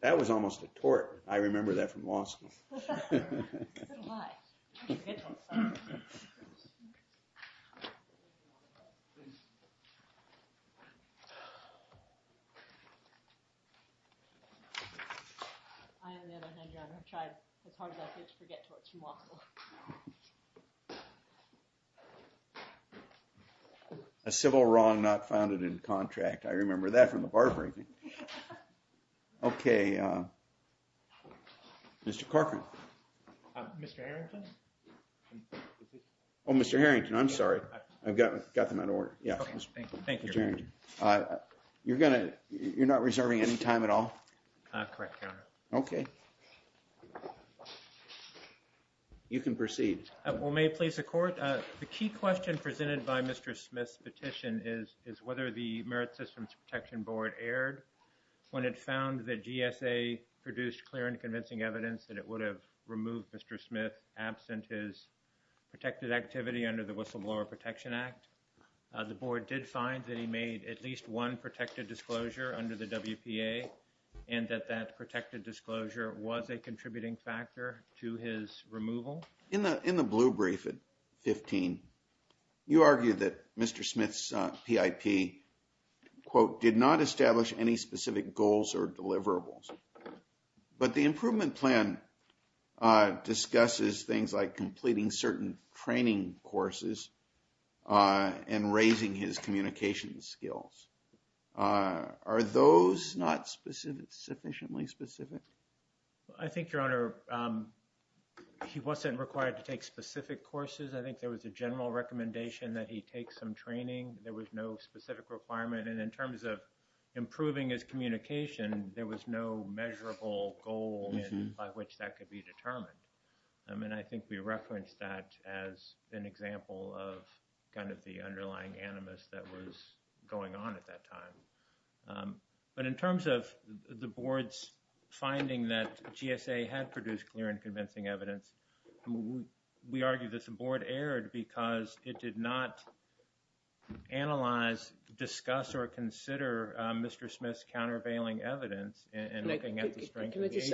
that was almost a tort I remember that from law school a civil wrong not found it in contract I remember that from the bar breaking. Okay, Mr. Corcoran. Mr. Harrington. Oh, Mr. Harrington, I'm sorry. I've got got them out of order. Thank you. You're going to, you're not reserving any time at all. Correct. Okay. You can proceed. Well, may it please the court. The key question presented by Mr. Smith's petition is, is whether the merit systems protection board aired when it found that GSA produced clear and convincing evidence that it would have removed Mr. Smith absent is protected activity under the whistleblower protection act. The board did find that he made at least one protected disclosure under the WPA and that that protected disclosure was a contributing factor to his removal in the in the blue brief at 15. You argue that Mr. Smith's PIP quote did not establish any specific goals or deliverables, but the improvement plan discusses things like completing certain training courses and raising his communication skills. Are those not specific sufficiently specific? I think your honor he wasn't required to take specific courses. I think there was a general recommendation that he take some training. There was no specific requirement. And in terms of improving his communication, there was no measurable goal by which that could be determined. I mean, I think we referenced that as an example of kind of the underlying animus that was going on at that time. But in terms of the board's finding that GSA had produced clear and convincing evidence, we argue that the board aired because it did not analyze, discuss or consider Mr. Smith's countervailing evidence. Can I just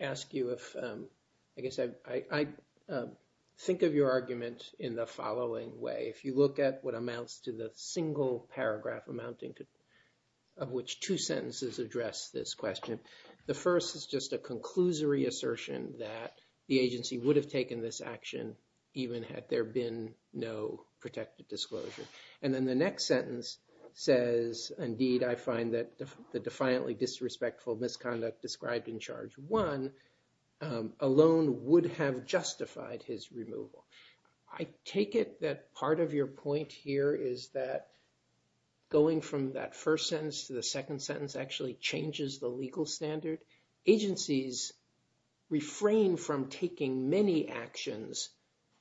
ask you if I guess I think of your argument in the following way. If you look at what amounts to the single paragraph amounting to of which two sentences address this question, the first is just a conclusory assertion that the agency would have taken this action even had there been no protected disclosure. And then the next sentence says, indeed, I find that the defiantly disrespectful misconduct described in charge one alone would have justified his removal. I take it that part of your point here is that going from that first sentence to the second sentence actually changes the legal standard. Agencies refrain from taking many actions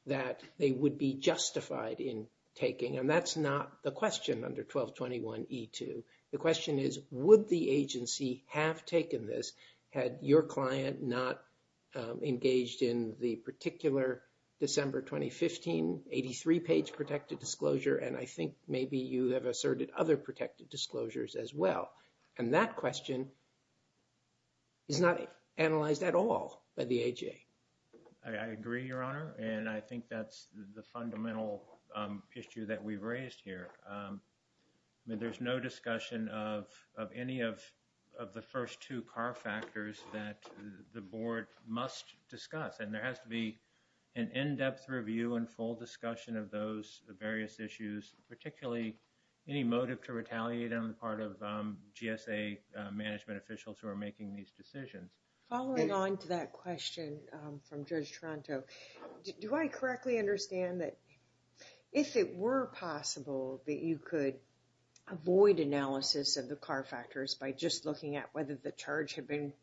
that they would be justified in taking. And that's not the question under 1221E2. The question is, would the agency have taken this had your client not engaged in the particular December 2015 83 page protected disclosure? And I think maybe you have asserted other protected disclosures as well. And that question is not analyzed at all by the AHA. I agree, your honor, and I think that's the fundamental issue that we've raised here. There's no discussion of any of the first two car factors that the board must discuss. And there has to be an in-depth review and full discussion of those various issues, particularly any motive to retaliate on the part of GSA management officials who are making these decisions. Following on to that question from Judge Toronto, do I correctly understand that if it were possible that you could avoid analysis of the car factors by just looking at whether the charge had been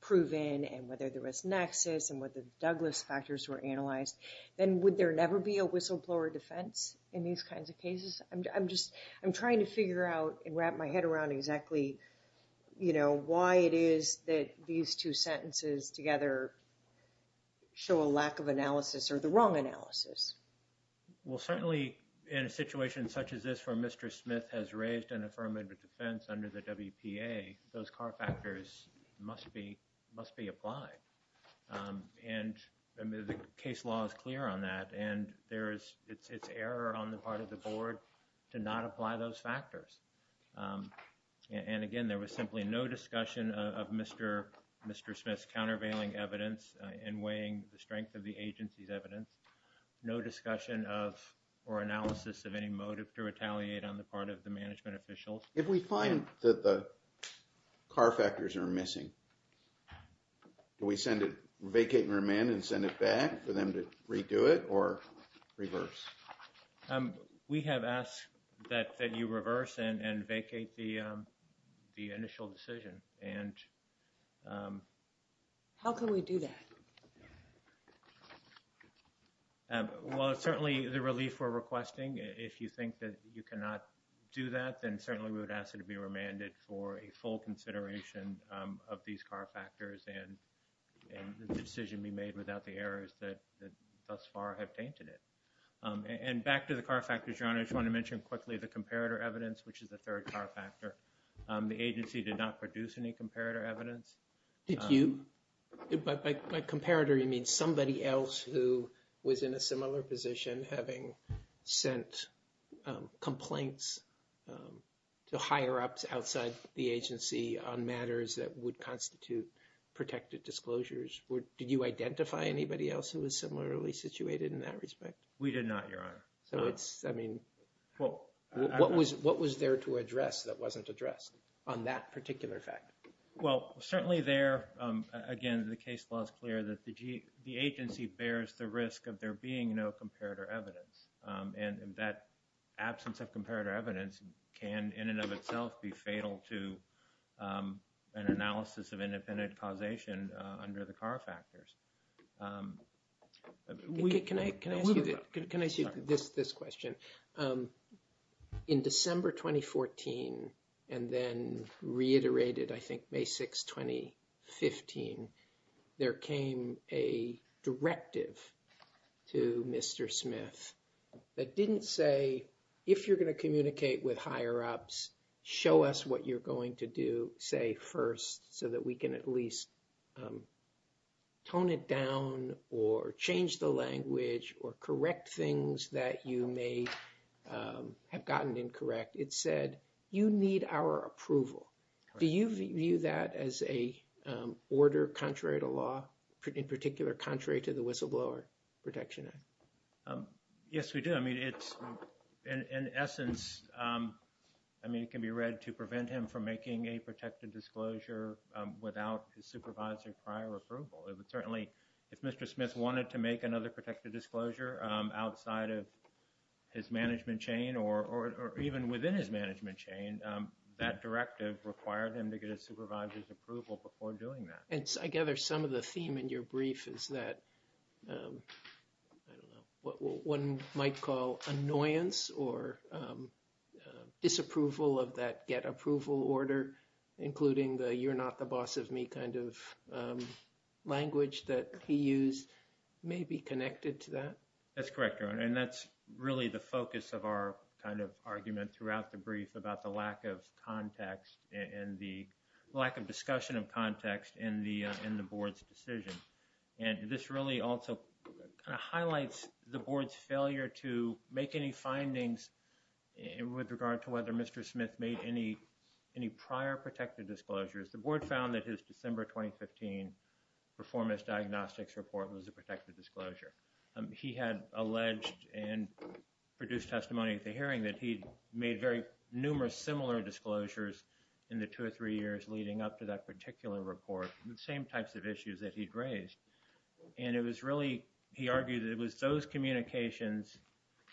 proven and whether there was nexus and whether the Douglas factors were analyzed, then would there never be a whistleblower defense in these kinds of cases? I'm just, I'm trying to figure out and wrap my head around exactly, you know, why it is that these two sentences together show a lack of analysis or the wrong analysis. Well, certainly in a situation such as this for Mr. Smith has raised an affirmative defense under the WPA, those car factors must be must be applied. And the case law is clear on that. And there is it's error on the part of the board to not apply those factors. And again, there was simply no discussion of Mr. Smith's countervailing evidence and weighing the strength of the agency's evidence. No discussion of or analysis of any motive to retaliate on the part of the management officials. If we find that the car factors are missing, do we send it, vacate and remand and send it back for them to redo it or reverse? We have asked that that you reverse and vacate the the initial decision. And how can we do that? Well, certainly the relief we're requesting, if you think that you cannot do that, then certainly we would ask you to be remanded for a full consideration of these car factors and the decision be made without the errors that thus far have tainted it. And back to the car factors, John, I just want to mention quickly the comparator evidence, which is the third car factor. The agency did not produce any comparator evidence. Did you? By comparator, you mean somebody else who was in a similar position, having sent complaints to higher ups outside the agency on matters that would constitute protected disclosures? Did you identify anybody else who was similarly situated in that respect? We did not, Your Honor. So it's I mean, well, what was what was there to address that wasn't addressed on that particular fact? Well, certainly there, again, the case law is clear that the agency bears the risk of there being no comparator evidence. And that absence of comparator evidence can in and of itself be fatal to an analysis of independent causation under the car factors. Can I ask you this question? In December 2014, and then reiterated, I think, May 6, 2015, there came a directive to Mr. Smith that didn't say if you're going to communicate with higher ups, show us what you're going to do, say first, so that we can at least tone it down or change the language or correct things that you may have gotten incorrect. It said, you need our approval. Do you view that as a order contrary to law, in particular, contrary to the Whistleblower Protection Act? Yes, we do. I mean, it's in essence, I mean, it can be read to prevent him from making a protected disclosure without his supervisor prior approval. It would certainly if Mr. Smith wanted to make another protected disclosure outside of his management chain or even within his management chain, that directive required him to get his supervisor's approval before doing that. And I gather some of the theme in your brief is that, I don't know, what one might call annoyance or disapproval of that get approval order, including the you're not the boss of me kind of language that he used may be connected to that. That's correct. And that's really the focus of our kind of argument throughout the brief about the lack of context and the lack of discussion of context in the in the board's decision. And this really also highlights the board's failure to make any findings with regard to whether Mr. Smith made any, any prior protected disclosures. The board found that his December 2015 performance diagnostics report was a protected disclosure. He had alleged and produced testimony at the hearing that he made very numerous similar disclosures in the two or three years leading up to that particular report, the same types of issues that he'd raised. And it was really, he argued that it was those communications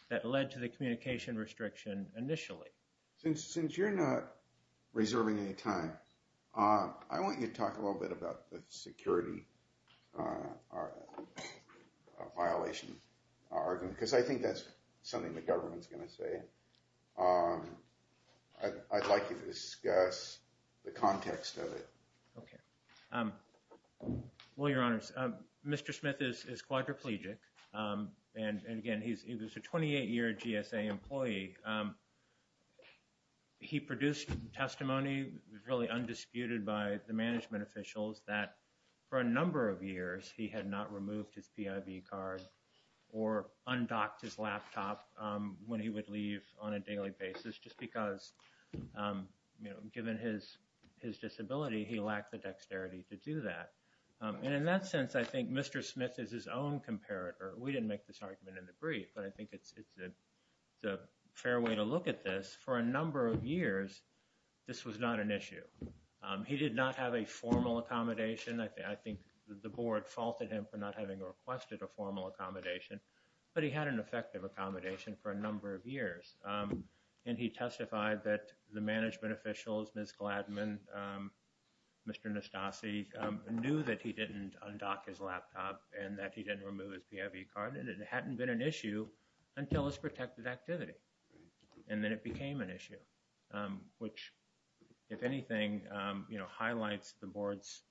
that led to the communication restriction initially. Since you're not reserving any time, I want you to talk a little bit about the security violation argument, because I think that's something the government's going to say. I'd like to discuss the context of it. OK. Well, Your Honor, Mr. Smith is quadriplegic. And again, he's a 28 year GSA employee. He produced testimony really undisputed by the management officials that for a number of years he had not removed his card or undocked his laptop when he would leave on a daily basis. Just because, you know, given his disability, he lacked the dexterity to do that. And in that sense, I think Mr. Smith is his own comparator. We didn't make this argument in the brief, but I think it's a fair way to look at this. For a number of years, this was not an issue. He did not have a formal accommodation. I think the board faulted him for not having requested a formal accommodation. But he had an effective accommodation for a number of years, and he testified that the management officials, Ms. Gladman, Mr. Nastassi, knew that he didn't undock his laptop and that he didn't remove his card. And it hadn't been an issue until his protected activity. And then it became an issue, which, if anything, you know, highlights the board's,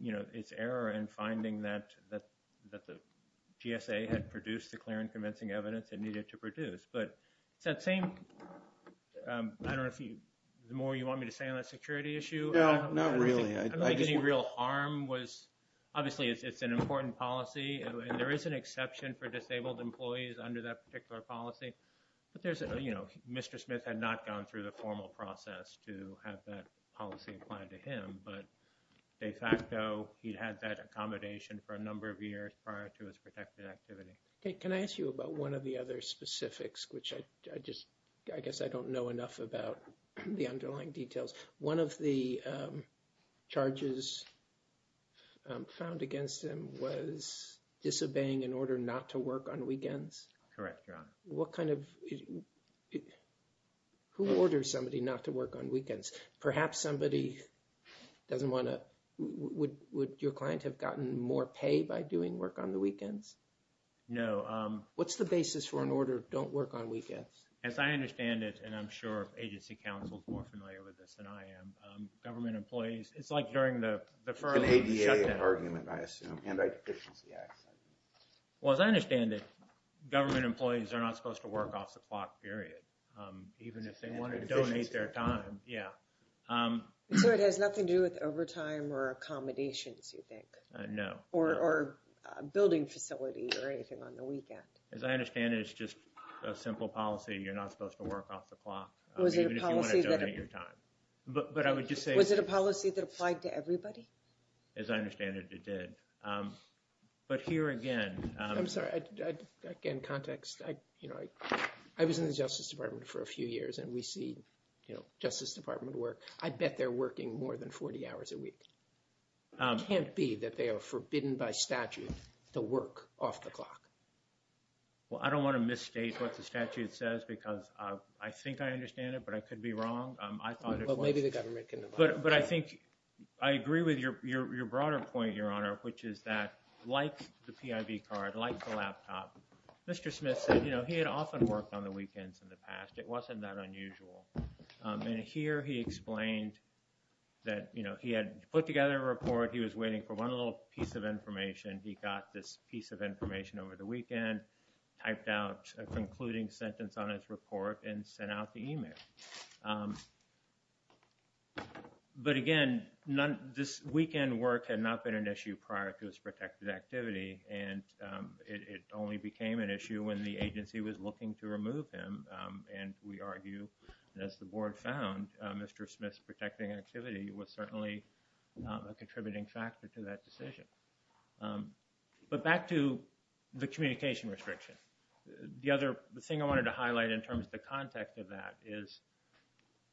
you know, its error in finding that the GSA had produced the clear and convincing evidence it needed to produce. But it's that same, I don't know if you, the more you want me to stay on that security issue? No, not really. I don't think any real harm was, obviously it's an important policy, and there is an exception for disabled employees under that particular policy. But there's, you know, Mr. Smith had not gone through the formal process to have that policy applied to him. But de facto, he had that accommodation for a number of years prior to his protected activity. Can I ask you about one of the other specifics, which I just, I guess I don't know enough about the underlying details. One of the charges found against him was disobeying an order not to work on weekends. Correct, Your Honor. What kind of, who orders somebody not to work on weekends? Perhaps somebody doesn't want to, would your client have gotten more pay by doing work on the weekends? No. What's the basis for an order, don't work on weekends? As I understand it, and I'm sure agency counsel is more familiar with this than I am, government employees, it's like during the... It's an ADA argument, I assume, Anti-Deficiency Act. Well, as I understand it, government employees are not supposed to work off the clock, period. Even if they want to donate their time, yeah. So it has nothing to do with overtime or accommodations, you think? No. Or a building facility or anything on the weekend. As I understand it, it's just a simple policy, you're not supposed to work off the clock, even if you want to donate your time. But I would just say... Was it a policy that applied to everybody? As I understand it, it did. But here again... I'm sorry, again, context, you know, I was in the Justice Department for a few years and we see, you know, Justice Department work. I bet they're working more than 40 hours a week. It can't be that they are forbidden by statute to work off the clock. Well, I don't want to misstate what the statute says because I think I understand it, but I could be wrong. Maybe the government can... But I think I agree with your broader point, Your Honor, which is that like the PIV card, like the laptop, Mr. Smith said, you know, he had often worked on the weekends in the past. It wasn't that unusual. And here he explained that, you know, he had put together a report. He was waiting for one little piece of information. He got this piece of information over the weekend, typed out a concluding sentence on his report, and sent out the email. But again, this weekend work had not been an issue prior to his protected activity, and it only became an issue when the agency was looking to remove him. And we argue, as the board found, Mr. Smith's protecting activity was certainly a contributing factor to that decision. But back to the communication restriction. The other thing I wanted to highlight in terms of the context of that is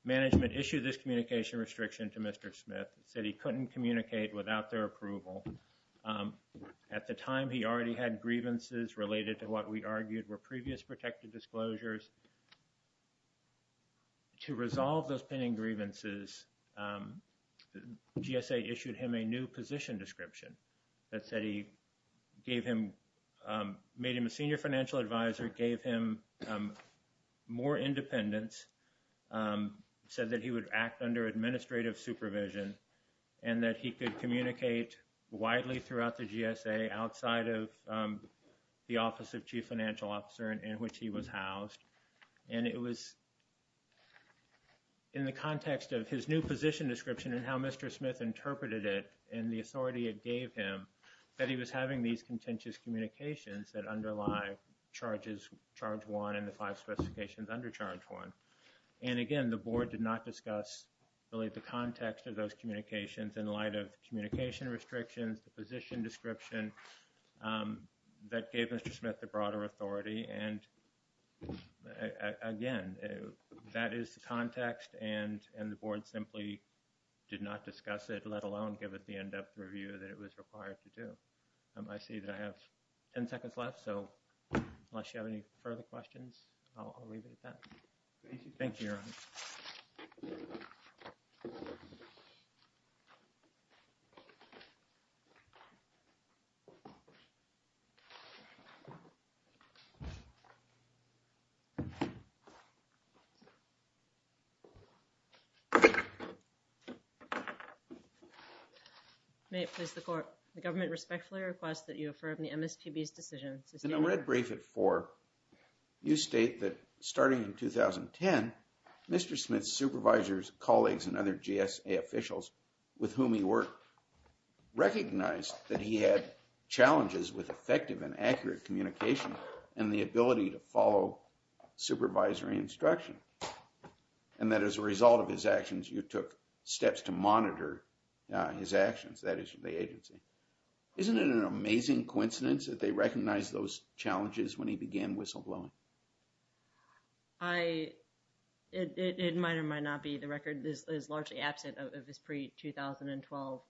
management issued this communication restriction to Mr. Smith, said he couldn't communicate without their approval. At the time, he already had grievances related to what we argued were previous protected disclosures. To resolve those pending grievances, GSA issued him a new position description that said he gave him... made him a senior financial advisor, gave him more independence, said that he would act under administrative supervision, and that he could communicate widely throughout the GSA outside of the office of chief financial officer in which he was housed. And it was in the context of his new position description and how Mr. Smith interpreted it and the authority it gave him, that he was having these contentious communications that underlie charges charge one and the five specifications under charge one. And, again, the board did not discuss really the context of those communications in light of communication restrictions, the position description that gave Mr. Smith the broader authority. And, again, that is the context. And the board simply did not discuss it, let alone give it the in-depth review that it was required to do. I see that I have ten seconds left, so unless you have any further questions, I'll leave it at that. Thank you, Your Honor. May it please the Court. The government respectfully requests that you affirm the MSPB's decision... You state that starting in 2010, Mr. Smith's supervisors, colleagues, and other GSA officials with whom he worked recognized that he had challenges with effective and accurate communication and the ability to follow supervisory instruction, and that as a result of his actions, you took steps to monitor his actions, that is, the agency. Isn't it an amazing coincidence that they recognized those challenges when he began whistleblowing? It might or might not be. The record is largely absent of his pre-2012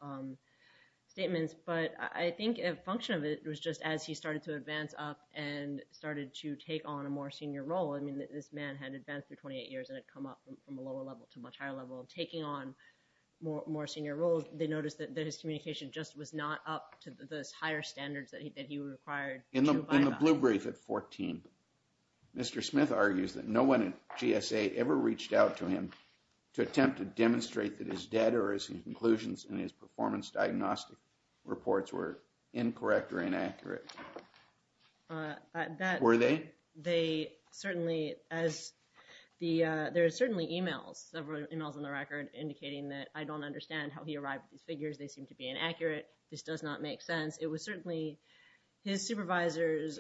statements. But I think a function of it was just as he started to advance up and started to take on a more senior role. I mean, this man had advanced through 28 years and had come up from a lower level to a much higher level. Taking on more senior roles, they noticed that his communication just was not up to those higher standards that he required. In the blue brief at 14, Mr. Smith argues that no one at GSA ever reached out to him to attempt to demonstrate that his data or his conclusions in his performance diagnostic reports were incorrect or inaccurate. Were they? There are certainly emails, several emails on the record indicating that I don't understand how he arrived at these figures. They seem to be inaccurate. This does not make sense. It was certainly his supervisors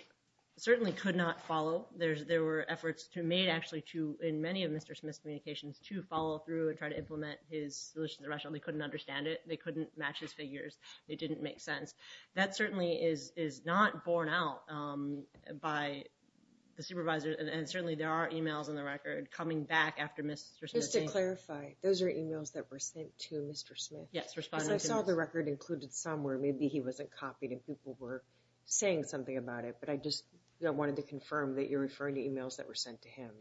certainly could not follow. There were efforts made actually in many of Mr. Smith's communications to follow through and try to implement his solutions. They couldn't understand it. They couldn't match his figures. It didn't make sense. That certainly is not borne out by the supervisors. And certainly there are emails on the record coming back after Mr. Smith. Just to clarify, those are emails that were sent to Mr. Smith? Yes. Because I saw the record included somewhere. Maybe he wasn't copied and people were saying something about it. But I just wanted to confirm that you're referring to emails that were sent to him.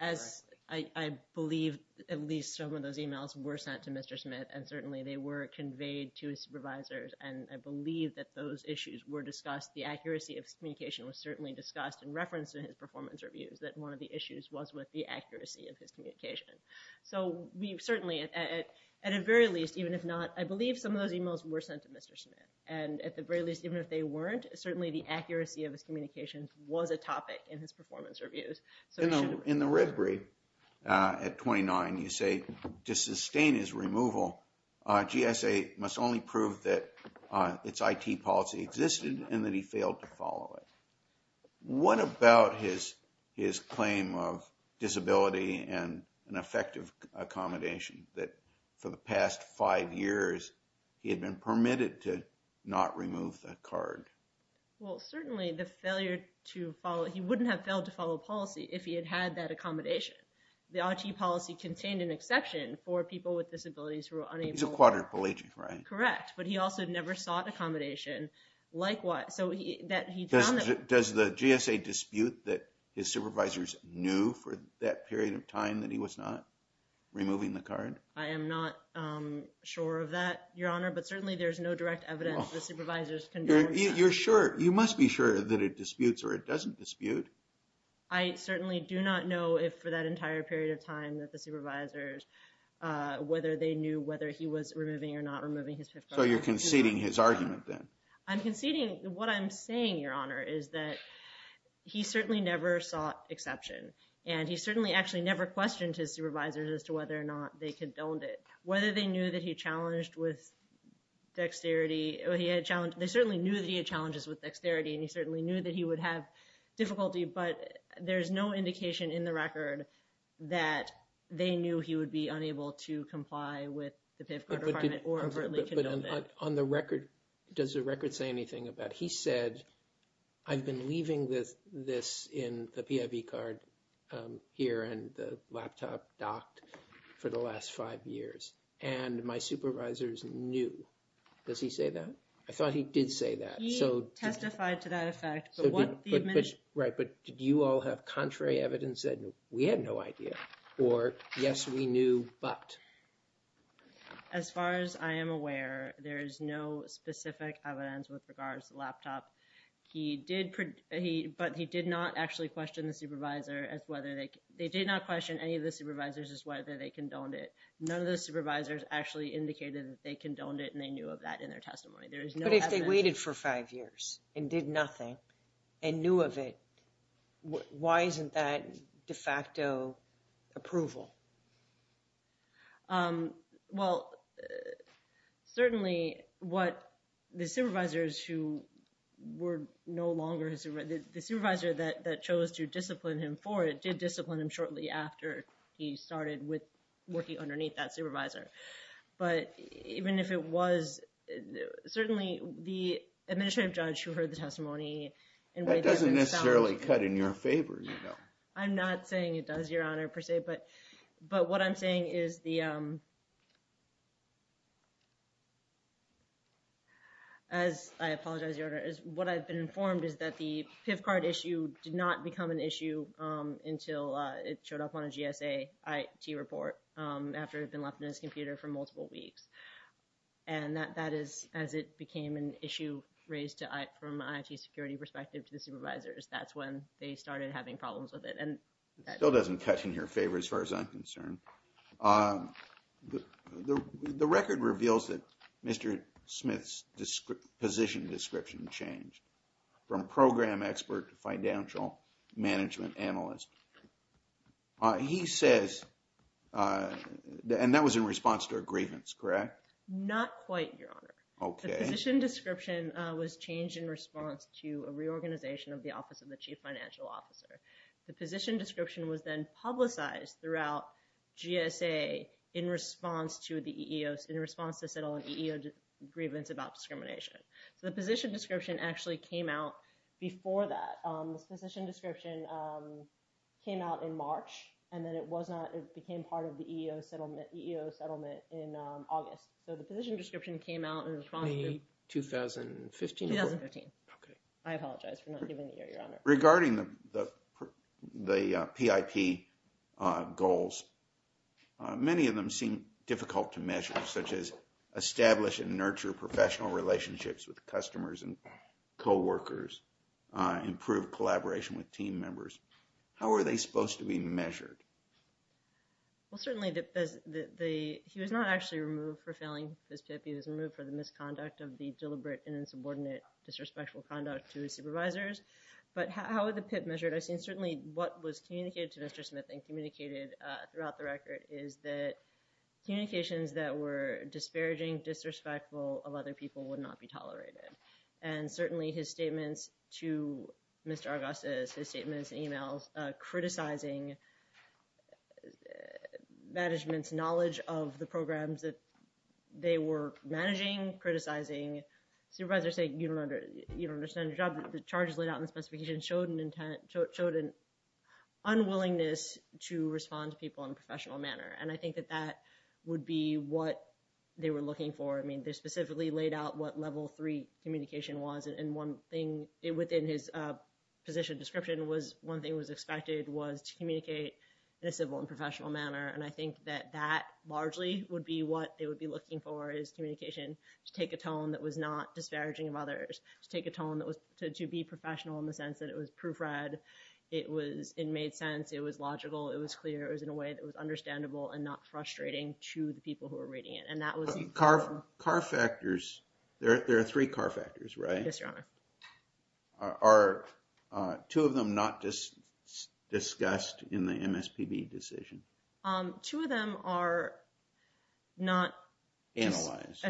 I believe at least some of those emails were sent to Mr. Smith. And certainly they were conveyed to his supervisors. And I believe that those issues were discussed. The accuracy of his communication was certainly discussed in reference to his performance reviews, that one of the issues was with the accuracy of his communication. So we certainly, at the very least, even if not, I believe some of those emails were sent to Mr. Smith. And at the very least, even if they weren't, certainly the accuracy of his communications was a topic in his performance reviews. In the RISBRE, at 29, you say to sustain his removal, GSA must only prove that its IT policy existed and that he failed to follow it. What about his claim of disability and ineffective accommodation, that for the past five years he had been permitted to not remove the card? Well, certainly the failure to follow, he wouldn't have failed to follow policy if he had had that accommodation. The IT policy contained an exception for people with disabilities who were unable. He's a quadriplegic, right? Correct, but he also never sought accommodation. Does the GSA dispute that his supervisors knew for that period of time that he was not removing the card? I am not sure of that, Your Honor, but certainly there's no direct evidence the supervisors condoned. You're sure, you must be sure that it disputes or it doesn't dispute. I certainly do not know if for that entire period of time that the supervisors, whether they knew whether he was removing or not removing his PIF card. So you're conceding his argument then? I'm conceding what I'm saying, Your Honor, is that he certainly never sought exception. And he certainly actually never questioned his supervisors as to whether or not they condoned it. Whether they knew that he challenged with dexterity. They certainly knew that he had challenges with dexterity, and he certainly knew that he would have difficulty. But there's no indication in the record that they knew he would be unable to comply with the PIF card requirement or overtly condoned it. But on the record, does the record say anything about he said, I've been leaving this in the PIF card here and the laptop docked for the last five years. And my supervisors knew. Does he say that? I thought he did say that. He testified to that effect. Right, but did you all have contrary evidence that we had no idea? Or yes, we knew, but? As far as I am aware, there is no specific evidence with regards to the laptop. He did, but he did not actually question the supervisor as whether they, they did not question any of the supervisors as whether they condoned it. None of the supervisors actually indicated that they condoned it and they knew of that in their testimony. But if they waited for five years and did nothing and knew of it, why isn't that de facto approval? Well, certainly what the supervisors who were no longer, the supervisor that chose to discipline him for it did discipline him shortly after he started with working underneath that supervisor. But even if it was, certainly the administrative judge who heard the testimony. That doesn't necessarily cut in your favor, you know. I'm not saying it does, Your Honor, per se, but, but what I'm saying is the, as I apologize, Your Honor, is what I've been informed is that the PIV card issue did not become an issue until it showed up on a GSA IT report after it had been left in his computer for multiple weeks. And that is, as it became an issue raised from an IT security perspective to the supervisors. That's when they started having problems with it. It still doesn't cut in your favor as far as I'm concerned. The record reveals that Mr. Smith's position description changed from program expert to financial management analyst. He says, and that was in response to a grievance, correct? Not quite, Your Honor. Okay. The position description was changed in response to a reorganization of the Office of the Chief Financial Officer. The position description was then publicized throughout GSA in response to the EEOs, in response to settle an EEO grievance about discrimination. So the position description actually came out before that. The position description came out in March, and then it was not, it became part of the EEO settlement in August. So the position description came out in 2015. 2015. Okay. Regarding the PIP goals, many of them seem difficult to measure, such as establish and nurture professional relationships with customers and coworkers, improve collaboration with team members. How are they supposed to be measured? Well, certainly, he was not actually removed for failing his PIP. He was removed for the misconduct of the deliberate and insubordinate disrespectful conduct to his supervisors. But how were the PIP measured? I've seen certainly what was communicated to Mr. Smith and communicated throughout the record is that communications that were disparaging, disrespectful of other people would not be tolerated. And certainly his statements to Mr. Argosas, his statements and emails criticizing management's knowledge of the programs that they were managing, criticizing. Supervisors say, you don't understand your job. The charges laid out in the specification showed an unwillingness to respond to people in a professional manner. And I think that that would be what they were looking for. I mean, they specifically laid out what level three communication was. And one thing within his position description was one thing was expected was to communicate in a civil and professional manner. And I think that that largely would be what they would be looking for is communication to take a tone that was not disparaging of others, to take a tone that was to be professional in the sense that it was proofread. It was it made sense. It was logical. It was clear. It was in a way that was understandable and not frustrating to the people who were reading it. Car factors. There are three car factors, right? Yes, Your Honor. Are two of them not discussed in the MSPB decision? Two of them are not... Analyzed.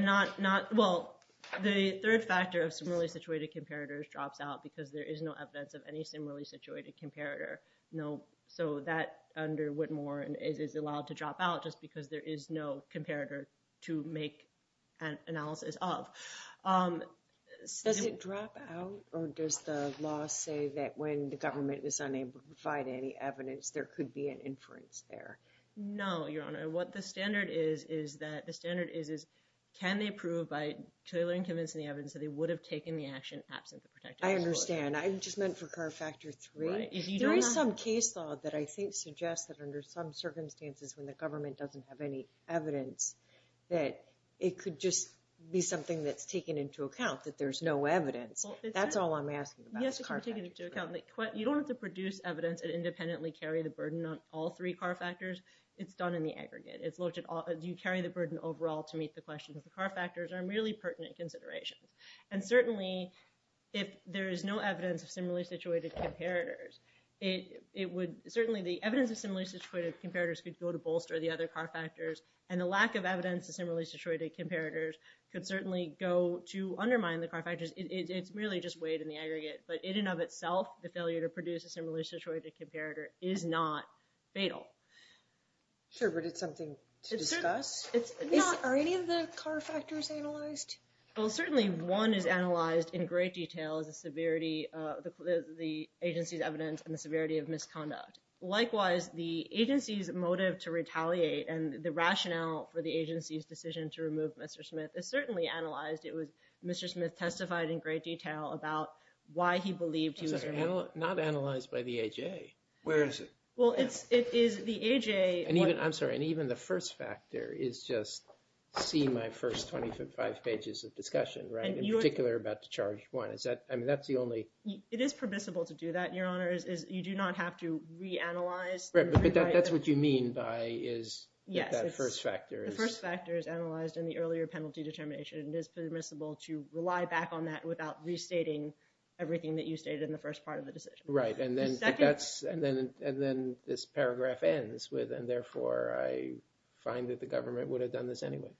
Well, the third factor of similarly situated comparators drops out because there is no evidence of any similarly situated comparator. No. So that under Whitmore is allowed to drop out just because there is no comparator to make an analysis of. Does it drop out or does the law say that when the government is unable to provide any evidence, there could be an inference there? No, Your Honor. What the standard is, is that the standard is, is can they prove by clearly convincing the evidence that they would have taken the action absent the protective authority? I understand. I just meant for car factor three. Right. If you don't have... There is some case law that I think suggests that under some circumstances when the government doesn't have any evidence, that it could just be something that's taken into account, that there's no evidence. That's all I'm asking about is car factors. You don't have to produce evidence and independently carry the burden on all three car factors. It's done in the aggregate. You carry the burden overall to meet the questions. The car factors are merely pertinent considerations. And certainly, if there is no evidence of similarly situated comparators, it would... Certainly, the evidence of similarly situated comparators could go to bolster the other car factors, and the lack of evidence of similarly situated comparators could certainly go to undermine the car factors. It's merely just weighed in the aggregate. But in and of itself, the failure to produce a similarly situated comparator is not fatal. Sure, but it's something to discuss. Are any of the car factors analyzed? Well, certainly one is analyzed in great detail is the severity of the agency's evidence and the severity of misconduct. Likewise, the agency's motive to retaliate and the rationale for the agency's decision to remove Mr. Smith is certainly analyzed. It was Mr. Smith testified in great detail about why he believed he was removed. Not analyzed by the AJA. Where is it? Well, it is the AJA... I'm sorry. And even the first factor is just seeing my first 25 pages of discussion, right? In particular, about the charge one. I mean, that's the only... It is permissible to do that, Your Honor, is you do not have to reanalyze. Right, but that's what you mean by is that first factor is... It is permissible to rely back on that without restating everything that you stated in the first part of the decision. Right, and then this paragraph ends with, and therefore I find that the government would have done this anyway.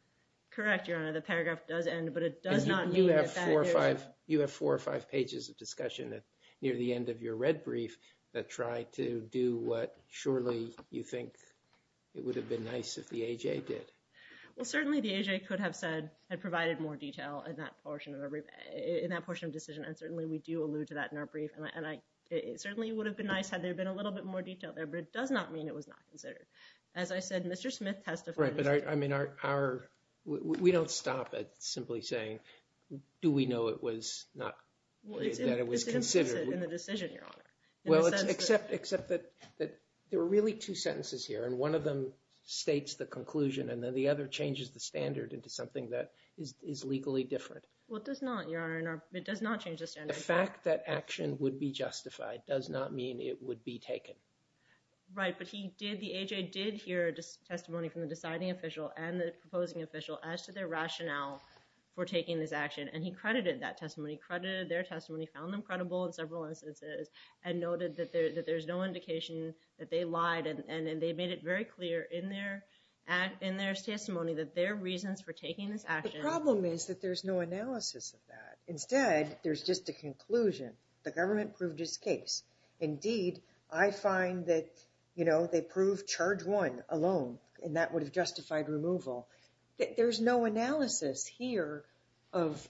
Correct, Your Honor. The paragraph does end, but it does not mean that... You have four or five pages of discussion near the end of your red brief that try to do what surely you think it would have been nice if the AJA did. Well, certainly the AJA could have said, had provided more detail in that portion of decision, and certainly we do allude to that in our brief. And it certainly would have been nice had there been a little bit more detail there, but it does not mean it was not considered. As I said, Mr. Smith testified... Right, but I mean our... We don't stop at simply saying, do we know it was not... Well, it's in the decision, Your Honor. Well, except that there were really two sentences here, and one of them states the conclusion, and then the other changes the standard into something that is legally different. Well, it does not, Your Honor. It does not change the standard. The fact that action would be justified does not mean it would be taken. Right, but he did, the AJA did hear testimony from the deciding official and the proposing official as to their rationale for taking this action, and he credited that testimony, credited their testimony, found them credible in several instances, and noted that there's no indication that they lied, and they made it very clear in their testimony that their reasons for taking this action... The problem is that there's no analysis of that. Instead, there's just a conclusion. The government proved its case. Indeed, I find that, you know, they proved charge one alone, and that would have justified removal. There's no analysis here of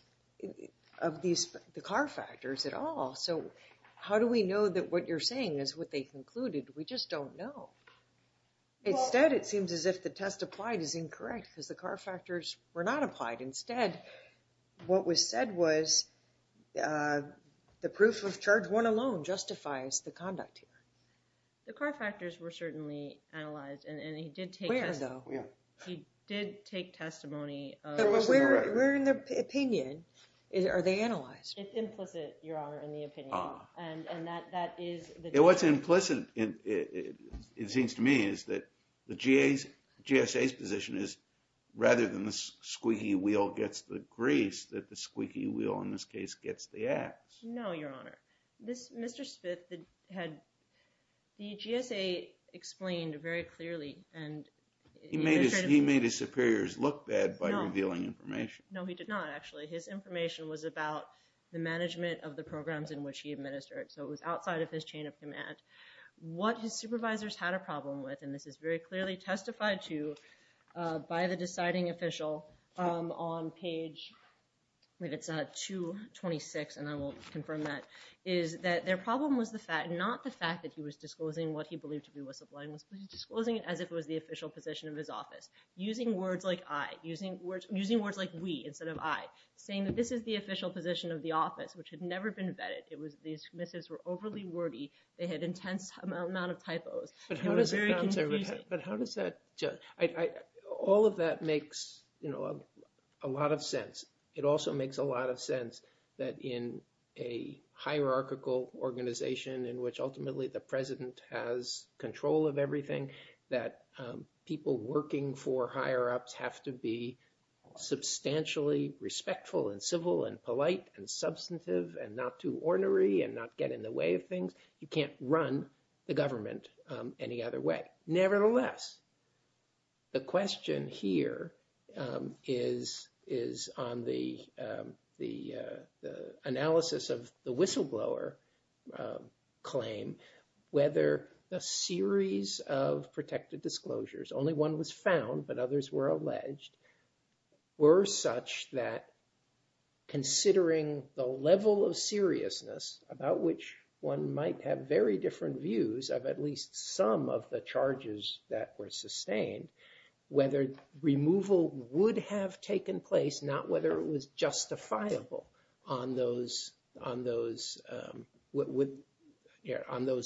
the car factors at all. So how do we know that what you're saying is what they concluded? We just don't know. Instead, it seems as if the test applied is incorrect because the car factors were not applied. Instead, what was said was the proof of charge one alone justifies the conduct here. The car factors were certainly analyzed, and he did take... Where, though? He did take testimony of... But where in the opinion are they analyzed? It's implicit, Your Honor, in the opinion, and that is... What's implicit, it seems to me, is that the GSA's position is rather than the squeaky wheel gets the grease, that the squeaky wheel, in this case, gets the ax. No, Your Honor. Mr. Smith had... The GSA explained very clearly, and... He made his superiors look bad by revealing information. No, he did not, actually. His information was about the management of the programs in which he administered, so it was outside of his chain of command. What his supervisors had a problem with, and this is very clearly testified to by the deciding official on page 226, and I will confirm that, is that their problem was not the fact that he was disclosing what he believed to be whistleblowing. He was disclosing it as if it was the official position of his office. Using words like I, using words like we, instead of I, saying that this is the official position of the office, which had never been vetted. It was... These missives were overly wordy. They had intense amount of typos. It was very confusing. But how does that... All of that makes a lot of sense. It also makes a lot of sense that in a hierarchical organization in which ultimately the president has control of everything, that people working for higher ups have to be substantially respectful and civil and polite and substantive and not too ornery and not get in the way of things. You can't run the government any other way. Nevertheless, the question here is on the analysis of the whistleblower claim, whether a series of protected disclosures, only one was found but others were alleged, were such that considering the level of seriousness about which one might have very different views of at least some of the charges that were sustained, whether removal would have taken place, not whether it was justifiable on those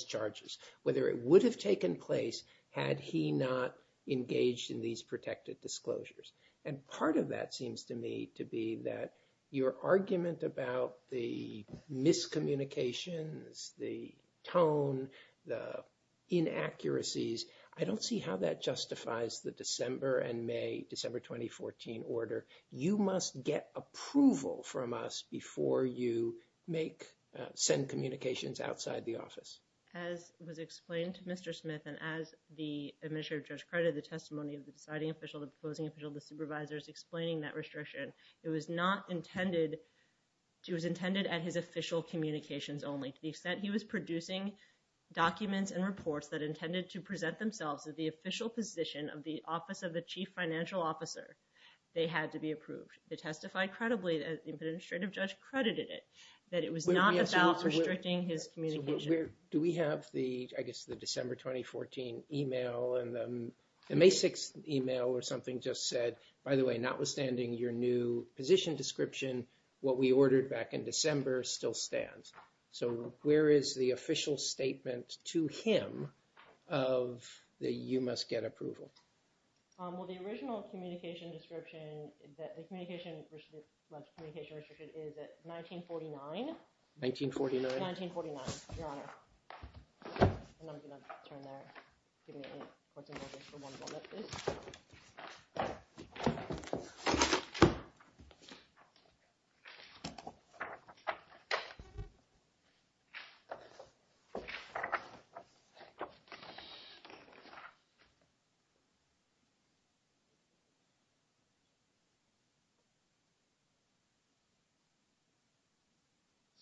charges, whether it would have taken place had he not engaged in these protected disclosures. And part of that seems to me to be that your argument about the miscommunications, the tone, the inaccuracies, I don't see how that justifies the December and May, December 2014 order. You must get approval from us before you make, send communications outside the office. As was explained to Mr. Smith and as the administrative judge credited the testimony of the deciding official, the opposing official, the supervisors explaining that restriction, it was not intended, it was intended at his official communications only. To the extent he was producing documents and reports that intended to present themselves at the official position of the office of the chief financial officer, they had to be approved. They testified credibly, the administrative judge credited it, that it was not about restricting his communication. Do we have the, I guess, the December 2014 email and the May 6th email or something just said, by the way, notwithstanding your new position description, what we ordered back in December still stands. So where is the official statement to him of the you must get approval? Well, the original communication description, the communication restriction is at 1949. 1949. 1949, your honor. And I'm going to turn there. For one moment, please. Thank you.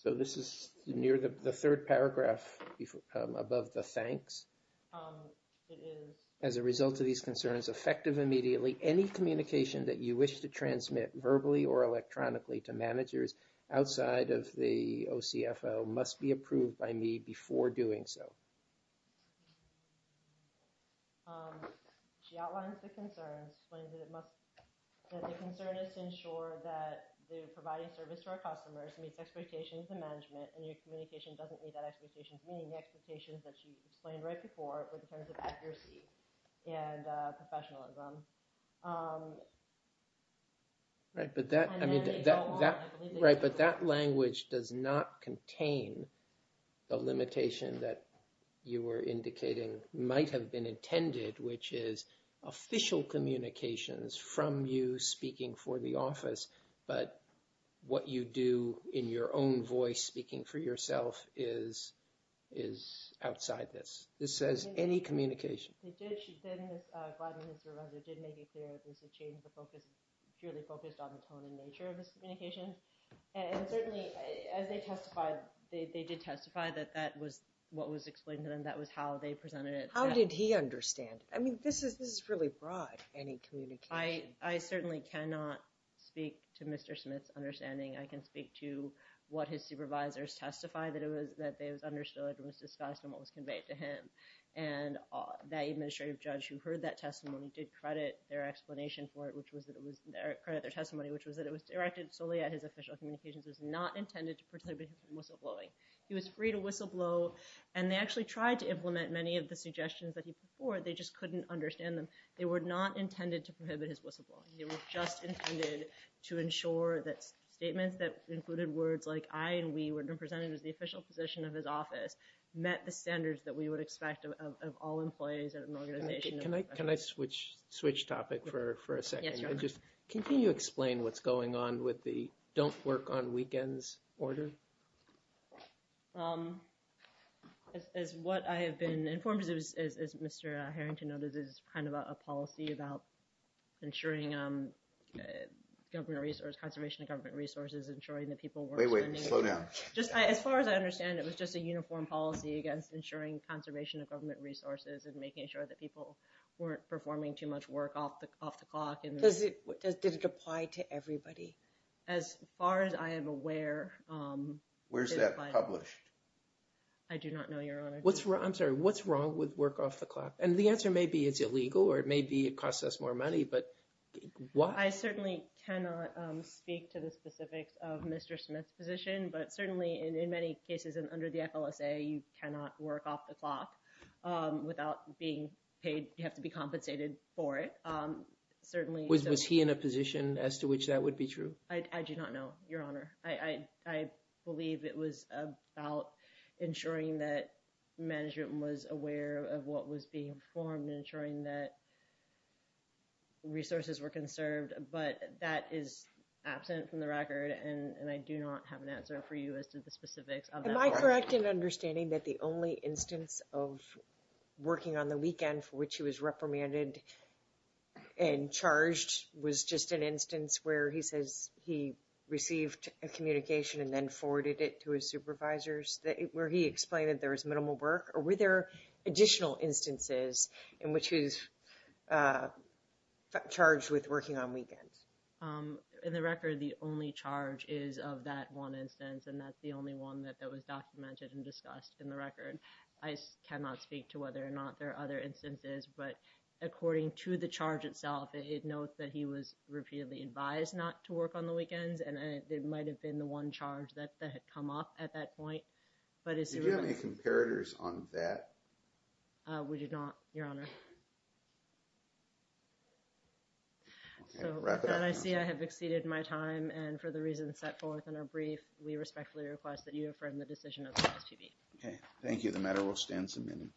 So this is near the third paragraph above the thanks. It is. As a result of these concerns, effective immediately, any communication that you wish to transmit verbally or electronically to managers outside of the OCFO must be approved by me before doing so. She outlines the concerns, explains that it must, that the concern is to ensure that the providing service to our customers meets expectations and management, and your communication doesn't meet that expectation, meaning the expectations that you explained right before, but in terms of accuracy and professionalism. Right, but that, I mean, that, right, but that language does not contain the limitation that you were indicating might have been intended, which is official communications from you speaking for the office. But what you do in your own voice speaking for yourself is outside this. This says any communication. They did. She did. Ms. Gladman, his supervisor, did make it clear that this is a change of focus, purely focused on the tone and nature of this communication. And certainly, as they testified, they did testify that that was what was explained to them. That was how they presented it. How did he understand it? I mean, this is really broad, any communication. I certainly cannot speak to Mr. Smith's understanding. I can speak to what his supervisors testified, that it was understood, it was discussed, and what was conveyed to him. And that administrative judge who heard that testimony did credit their explanation for it, which was that it was, credit their testimony, which was that it was directed solely at his official communications. It was not intended to prohibit him from whistleblowing. He was free to whistleblow, and they actually tried to implement many of the suggestions that he put forward. They just couldn't understand them. They were not intended to prohibit his whistleblowing. They were just intended to ensure that statements that included words like, I and we were represented as the official position of his office, met the standards that we would expect of all employees at an organization. Can I switch topic for a second? Yes, sure. Can you explain what's going on with the don't work on weekends order? As what I have been informed of, as Mr. Harrington noted, this is kind of a policy about ensuring government resources, conservation of government resources, ensuring that people work. Wait, wait, slow down. As far as I understand, it was just a uniform policy against ensuring conservation of government resources and making sure that people weren't performing too much work off the clock. Did it apply to everybody? As far as I am aware. Where's that published? I do not know, Your Honor. I'm sorry. What's wrong with work off the clock? And the answer may be it's illegal or it may be it costs us more money, but why? I certainly cannot speak to the specifics of Mr. Smith's position, but certainly in many cases and under the FLSA, you cannot work off the clock without being paid. You have to be compensated for it. Was he in a position as to which that would be true? I do not know, Your Honor. I believe it was about ensuring that management was aware of what was being performed and ensuring that resources were conserved, but that is absent from the record, and I do not have an answer for you as to the specifics of that part. Am I correct in understanding that the only instance of working on the weekend for which he was reprimanded and charged was just an instance where he says he received a communication and then forwarded it to his supervisors where he explained that there was minimal work? Or were there additional instances in which he was charged with working on weekends? In the record, the only charge is of that one instance, and that's the only one that was documented and discussed in the record. I cannot speak to whether or not there are other instances, but according to the charge itself, it notes that he was repeatedly advised not to work on the weekends, and it might have been the one charge that had come up at that point. Did you have any comparators on that? We did not, Your Honor. So with that, I see I have exceeded my time, and for the reasons set forth in our brief, we respectfully request that you affirm the decision of the SPB. Okay. Thank you. The matter will stand submitted.